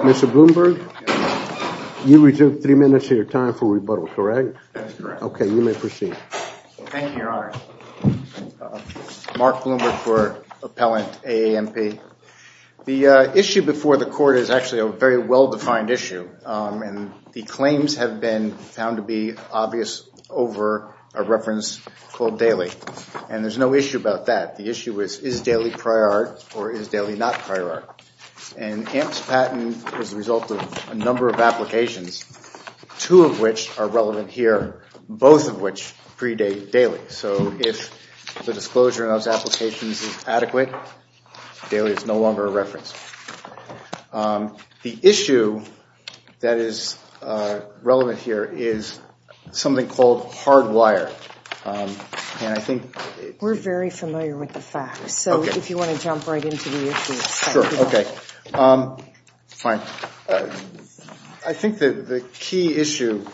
Mr. Bloomberg, you reserve three minutes of your time for rebuttal, correct? That's correct. Okay, you may proceed. Thank you, Your Honor. Mark Bloomberg for Appellant AAMP. The issue before the court is actually a very well-defined issue, and the claims have been found to be obvious over a reference called daily, and there's no issue about that. The issue is, is daily prior art or is daily not prior art? And AAMP's patent is the result of a number of applications, two of which are relevant here, both of which predate daily. So if the disclosure of those applications is adequate, daily is no longer a reference. The issue that is relevant here is something called hard wire, and I think... We're very familiar with the facts, so if you want to jump right into the issues. Sure. Okay. Fine. I think that the key issue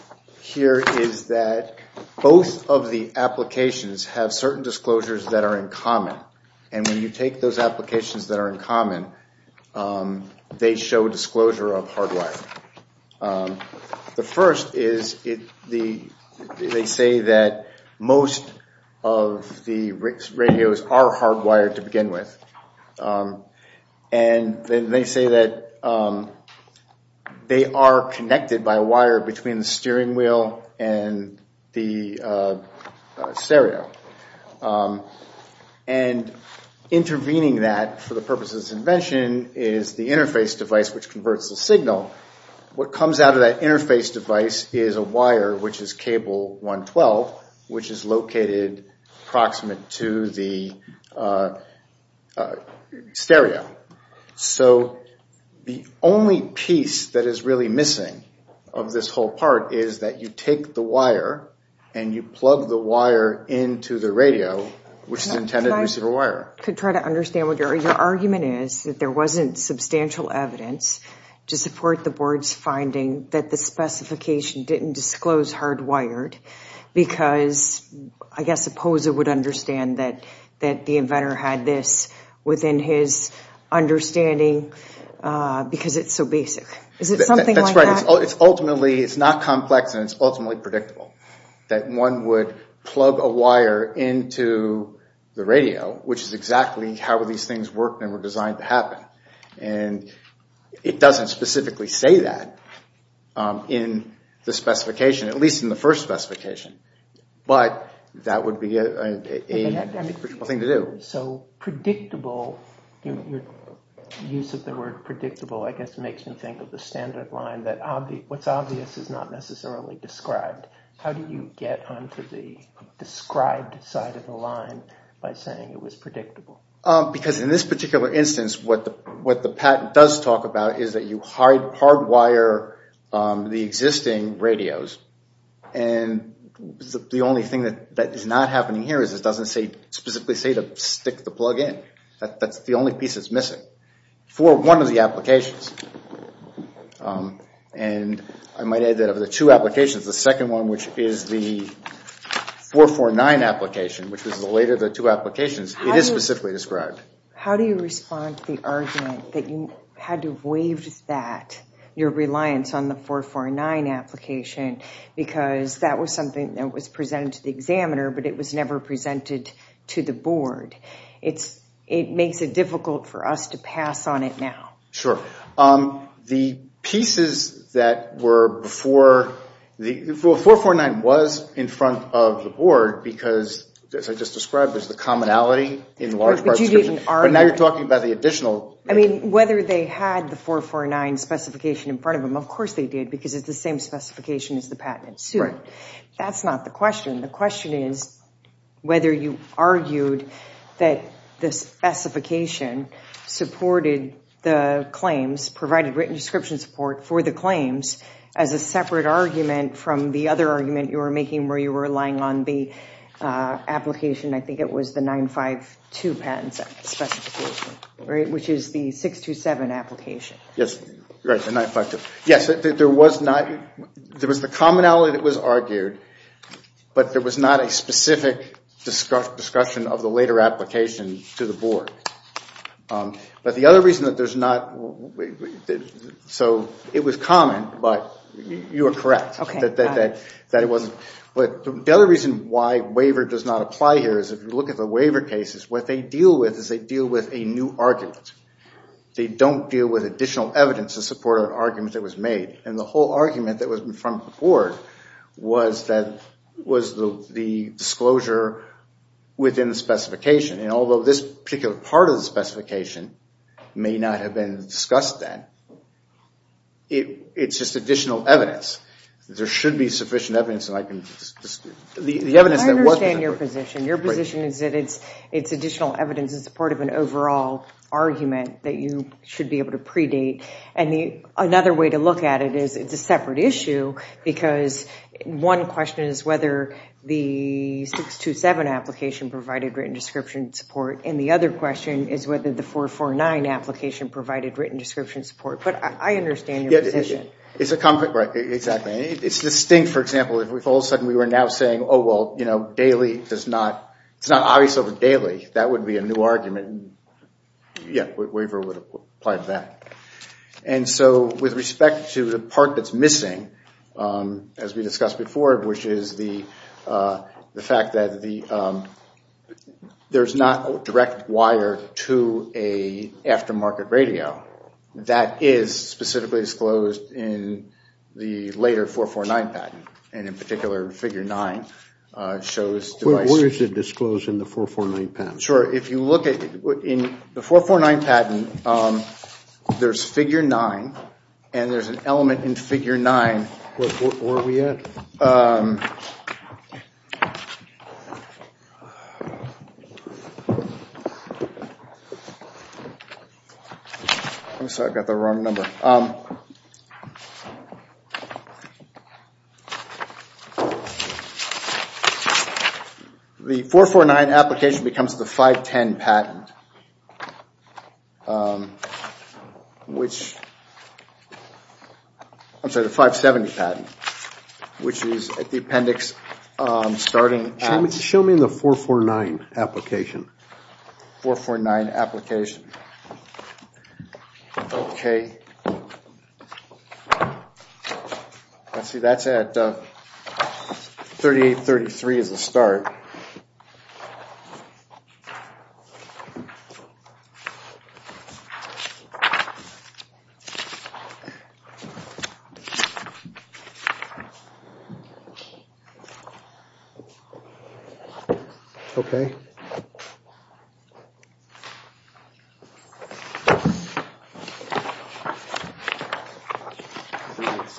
here is that both of the applications have certain disclosures that are in common, and when you take those applications that are in common, they show disclosure of hard wire. The first is they say that most of the radios are hard wired to begin with, and then they say that they are connected by a wire between the steering wheel and the stereo, and intervening that for the purpose of this invention is the interface device, which converts the signal. What comes out of that interface device is a wire, which is cable 112, which is located approximate to the stereo. So the only piece that is really missing of this whole part is that you take the wire and you plug the wire into the radio, which is intended to receive a wire. I could try to understand what your argument is, that there wasn't substantial evidence to support the board's finding that the specification didn't disclose hard wired, because I guess I suppose it would understand that the inventor had this within his understanding, because it's so basic. Is it something like that? That's right. It's ultimately, it's not complex, and it's ultimately predictable. That one would plug a wire into the radio, which is exactly how these things worked and were designed to happen. It doesn't specifically say that in the specification, at least in the first specification, but that would be a thing to do. So predictable, your use of the word predictable I guess makes me think of the standard line that what's obvious is not necessarily described. How do you get onto the described side of the line by saying it was predictable? Because in this particular instance, what the patent does talk about is that you hard wire the existing radios, and the only thing that is not happening here is it doesn't specifically say to stick the plug in. That's the only piece that's missing. For one of the applications, and I might add that of the two applications, the second one, which is the 449 application, which was later the two applications, it is specifically described. How do you respond to the argument that you had to waive that, your reliance on the 449 application, because that was something that was presented to the examiner, but it was never presented to the board? It makes it difficult for us to pass on it now. The pieces that were before, 449 was in front of the board because, as I just described, there's the commonality in large part of the description. But now you're talking about the additional... Whether they had the 449 specification in front of them, of course they did, because it's the same specification as the patent suit. That's not the question. The question is whether you argued that the specification supported the claims, provided written description support for the claims, as a separate argument from the other argument you were making where you were relying on the application, I think it was the 952 patent specification, which is the 627 application. Yes, right, the 952. Yes, there was the commonality that was argued, but there was not a specific discussion of the later application to the board. But the other reason that there's not... So it was common, but you are correct that it wasn't. But the other reason why waiver does not apply here is if you look at the waiver cases, what they deal with is they deal with a new argument. They don't deal with additional evidence to support an argument that was made. And the whole argument that was in front of the board was the disclosure within the specification. And although this particular part of the specification may not have been discussed then, it's just additional evidence. There should be sufficient evidence that I can... The evidence that was... I understand your position. Your position is that it's additional evidence in support of an overall argument that you should be able to predate. And another way to look at it is it's a separate issue because one question is whether the And the other question is whether the 449 application provided written description support. But I understand your position. It's a... Right. Exactly. It's distinct, for example, if all of a sudden we were now saying, oh, well, you know, daily does not... It's not obvious over daily. That would be a new argument, and yeah, waiver would apply to that. And so with respect to the part that's missing, as we discussed before, which is the fact that there's not direct wire to a aftermarket radio, that is specifically disclosed in the later 449 patent. And in particular, figure 9 shows devices... Where is it disclosed in the 449 patent? Sure. If you look at... In the 449 patent, there's figure 9, and there's an element in figure 9... Where are we at? I'm sorry, I've got the wrong number. The 449 application becomes the 510 patent, which, I'm sorry, the 570 patent, which is at the appendix starting at... Show me the 449 application. 449 application. Okay. Let's see, that's at 3833 is the start. Okay. Let's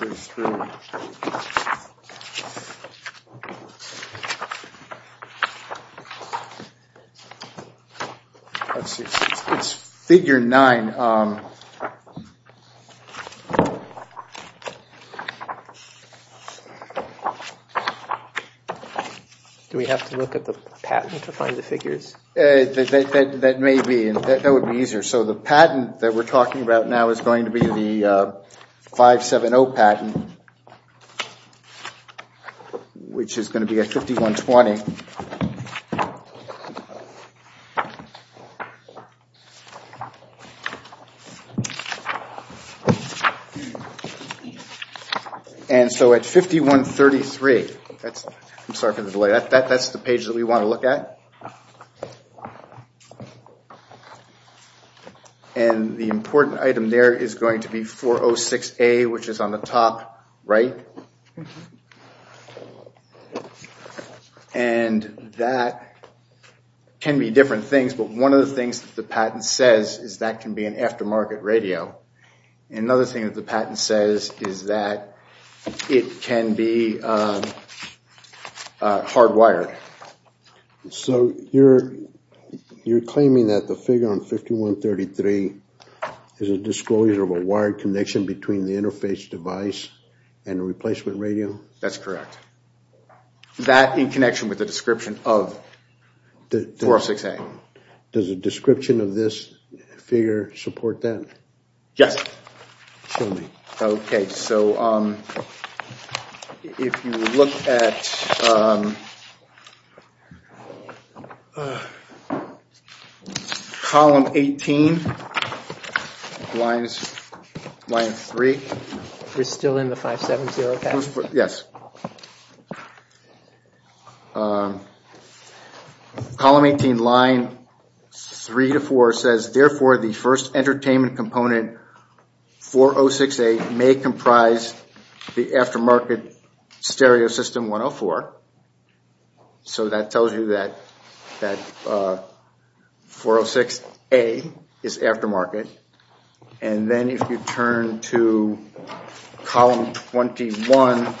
see, it's figure 9. And... Do we have to look at the patent to find the figures? That may be. That would be easier. So the patent that we're talking about now is going to be the 570 patent, which is going to be at 5120. And so at 5133, I'm sorry for the delay, that's the page that we want to look at. And the important item there is going to be 406A, which is on the top right. And that can be different things, but one of the things that the patent says is that can be an aftermarket radio. Another thing that the patent says is that it can be hardwired. So you're claiming that the figure on 5133 is a disclosure of a wired connection between the interface device and a replacement radio? That's correct. That in connection with the description of 406A. Does the description of this figure support that? Yes. Show me. Okay, so if you look at column 18, line 3. It's still in the 570 patent? Yes. Okay. Column 18, line 3 to 4 says, therefore, the first entertainment component 406A may comprise the aftermarket stereo system 104. So that tells you that 406A is aftermarket. And then if you turn to column 21,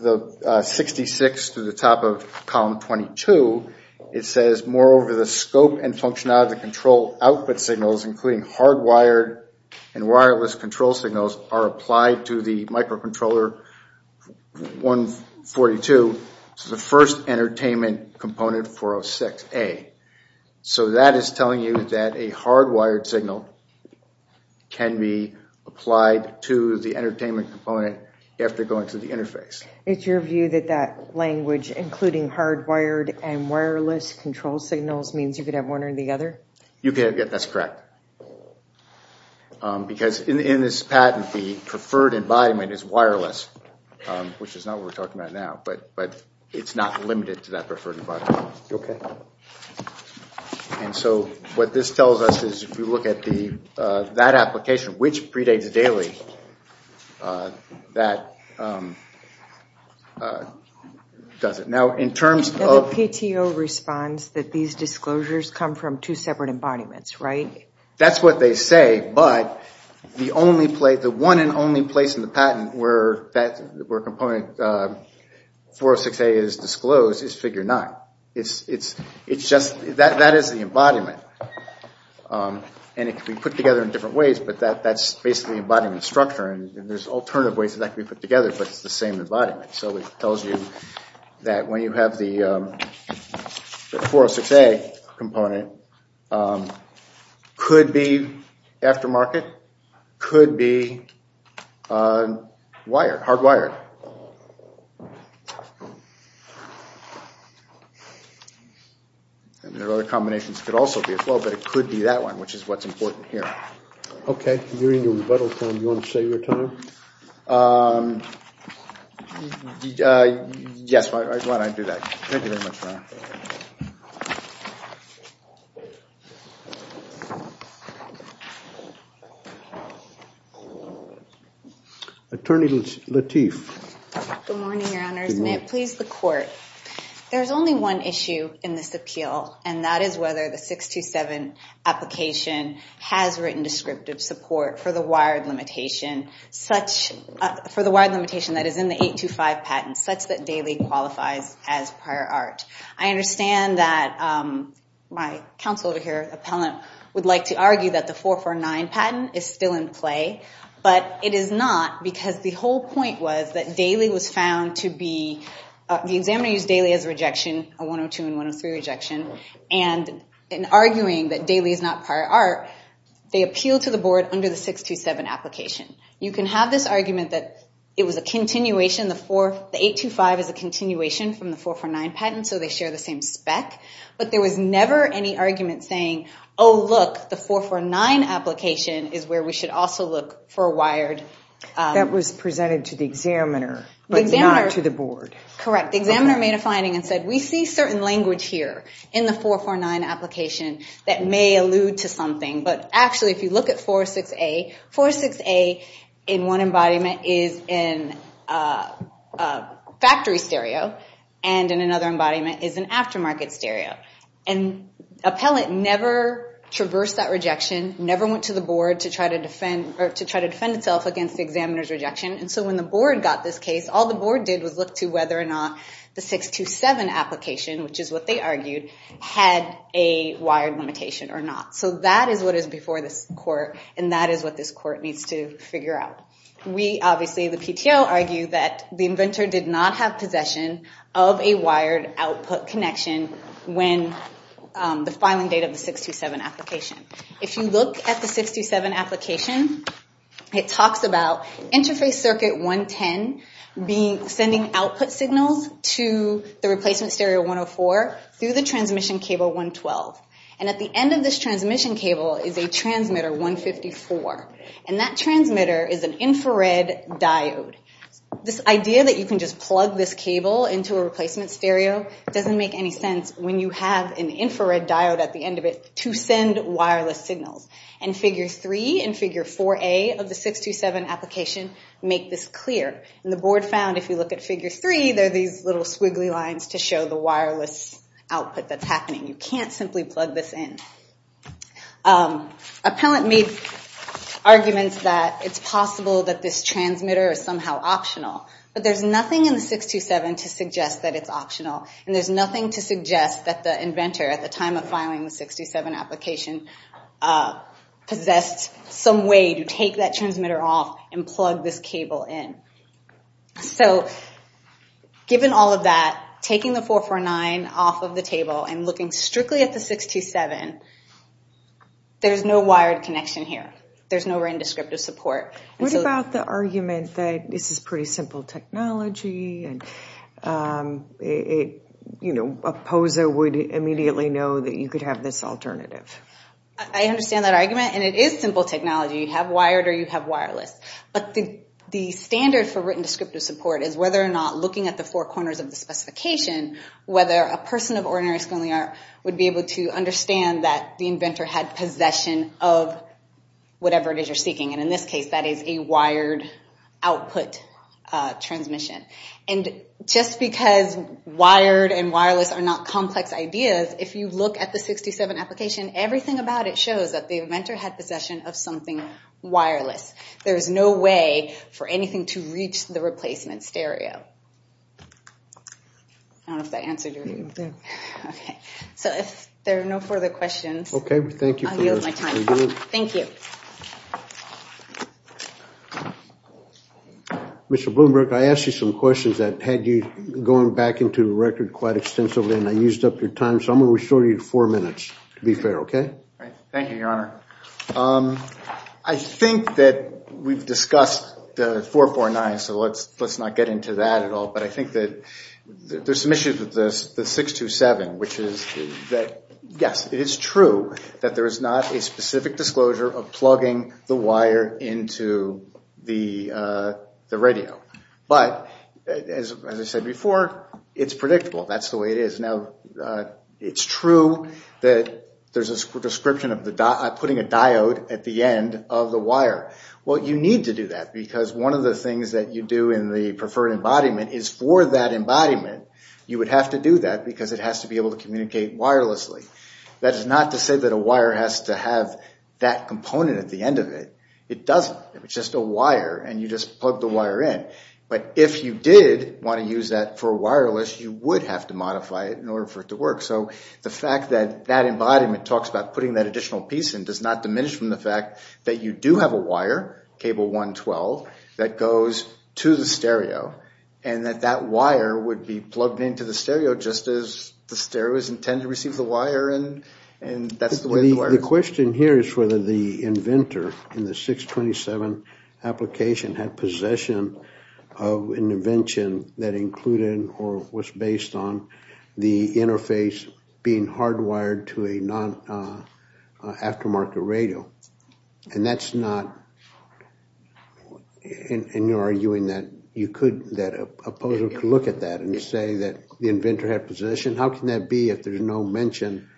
the 66 to the top of column 22, it says, moreover, the scope and functionality of the control output signals, including hardwired and wireless control signals, are applied to the microcontroller 142, the first entertainment component 406A. So that is telling you that a hardwired signal can be applied to the entertainment component after going to the interface. It's your view that that language, including hardwired and wireless control signals, means you could have one or the other? That's correct. Because in this patent, the preferred embodiment is wireless, which is not what we're talking about now. But it's not limited to that preferred embodiment. Okay. And so what this tells us is if you look at that application, which predates daily, that does it. Now the PTO responds that these disclosures come from two separate embodiments, right? That's what they say. But the one and only place in the patent where component 406A is disclosed is figure 9. That is the embodiment. And it can be put together in different ways. But that's basically embodiment structure. And there's alternative ways that that can be put together. But it's the same embodiment. So it tells you that when you have the 406A component, could be aftermarket, could be wired, hardwired. And there are other combinations. It could also be a flow, but it could be that one, which is what's important here. Okay. You're in your rebuttal time. You want to save your time? Yes, why don't I do that. Thank you very much for that. Attorney Lateef. Good morning, Your Honors. May it please the Court. There's only one issue in this appeal, and that is whether the 627 application has written descriptive support for the wired limitation. For the wired limitation that is in the 825 patent, such that Daly qualifies as prior art. I understand that my counsel over here, appellant, would like to argue that the 449 patent is still in play. But it is not, because the whole point was that Daly was found to be, the examiner used Daly as a rejection, a 102 and 103 rejection. And in arguing that Daly is not prior art, they appealed to the board under the 627 application. You can have this argument that it was a continuation. The 825 is a continuation from the 449 patent, so they share the same spec. But there was never any argument saying, oh, look, the 449 application is where we should also look for a wired. That was presented to the examiner, but not to the board. Correct. The examiner made a finding and said, we see certain language here in the 449 application that may allude to something. But actually, if you look at 46A, 46A in one embodiment is a factory stereo, and in another embodiment is an aftermarket stereo. And appellant never traversed that rejection, never went to the board to try to defend itself against the examiner's rejection. And so when the board got this case, all the board did was look to whether or not the 627 application, which is what they argued, had a wired limitation or not. So that is what is before this court, and that is what this court needs to figure out. We, obviously, the PTO, argue that the inventor did not have possession of a wired output connection when the filing date of the 627 application. If you look at the 627 application, it talks about interface circuit 110 sending output signals to the replacement stereo 104 through the transmission cable 112. And at the end of this transmission cable is a transmitter 154, and that transmitter is an infrared diode. This idea that you can just plug this cable into a replacement stereo doesn't make any sense when you have an infrared diode at the end of it to send wireless signals. And figure 3 and figure 4A of the 627 application make this clear. And the board found, if you look at figure 3, there are these little squiggly lines to show the wireless output that's happening. You can't simply plug this in. Appellant made arguments that it's possible that this transmitter is somehow optional, but there's nothing in the 627 to suggest that it's optional, and there's nothing to suggest that the inventor, at the time of filing the 627 application, possessed some way to take that transmitter off and plug this cable in. So, given all of that, taking the 449 off of the table and looking strictly at the 627, there's no wired connection here. There's no RAN descriptive support. What about the argument that this is pretty simple technology, and a POSA would immediately know that you could have this alternative? I understand that argument, and it is simple technology. You have wired or you have wireless. But the standard for written descriptive support is whether or not, looking at the four corners of the specification, whether a person of ordinary schooling would be able to understand that the inventor had possession of whatever it is you're seeking. And in this case, that is a wired output transmission. And just because wired and wireless are not complex ideas, if you look at the 627 application, everything about it shows that the inventor had possession of something wireless. There's no way for anything to reach the replacement stereo. I don't know if that answered your question. Okay. So, if there are no further questions, I'll yield my time. Thank you. Mr. Bloomberg, I asked you some questions that had you going back into the record quite extensively, and I used up your time, so I'm going to restore you to four minutes, to be fair, okay? Thank you, Your Honor. I think that we've discussed the 449, so let's not get into that at all. But I think that there's some issues with the 627, which is that, yes, it is true that there is not a specific disclosure of plugging the wire into the radio. But, as I said before, it's predictable. That's the way it is. Now, it's true that there's a description of putting a diode at the end of the wire. Well, you need to do that, because one of the things that you do in the preferred embodiment is, for that embodiment, you would have to do that, because it has to be able to communicate wirelessly. That is not to say that a wire has to have that component at the end of it. It doesn't. It's just a wire, and you just plug the wire in. But if you did want to use that for wireless, you would have to modify it in order for it to work. So the fact that that embodiment talks about putting that additional piece in does not diminish from the fact that you do have a wire, cable 112, that goes to the stereo, and that that wire would be plugged into the stereo just as the stereo is intended to receive The question here is whether the inventor in the 627 application had possession of an invention that included or was based on the interface being hardwired to an aftermarket radio. And that's not – and you're arguing that you could – that a poser could look at that and say that the inventor had possession. How can that be if there's no mention?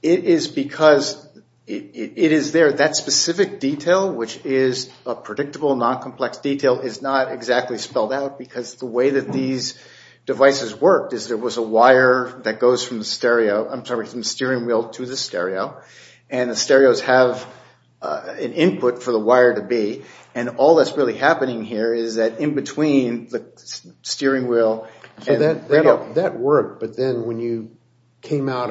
It is because it is there. That specific detail, which is a predictable, non-complex detail, is not exactly spelled out, because the way that these devices worked is there was a wire that goes from the stereo – I'm sorry, from the steering wheel to the stereo, and the stereos have an input for the wire to be. And all that's really happening here is that in between the steering wheel – So that worked, but then when you came out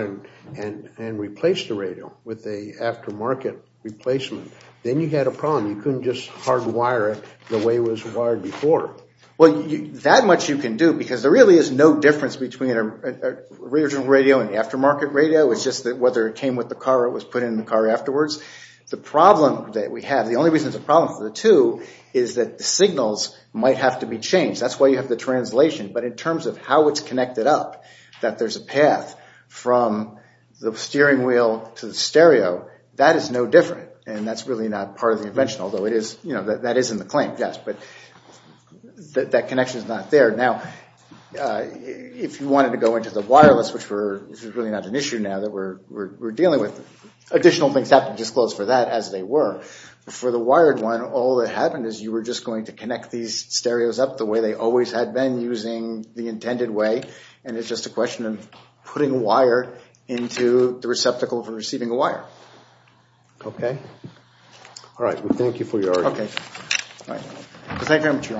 and replaced the radio with an aftermarket replacement, then you had a problem. You couldn't just hardwire it the way it was wired before. Well, that much you can do, because there really is no difference between a radio and aftermarket radio. It's just that whether it came with the car or it was put in the car afterwards. The only reason it's a problem for the two is that the signals might have to be changed. That's why you have the translation. But in terms of how it's connected up, that there's a path from the steering wheel to the stereo, that is no different. And that's really not part of the invention, although that is in the claim, yes. But that connection is not there. Now, if you wanted to go into the wireless, which is really not an issue now that we're But for the wired one, all that happened is you were just going to connect these stereos up the way they always had been using the intended way, and it's just a question of putting a wire into the receptacle for receiving a wire. Okay. All right. Well, thank you for your argument. Okay. All right. Thank you very much, Your Honor. Yes.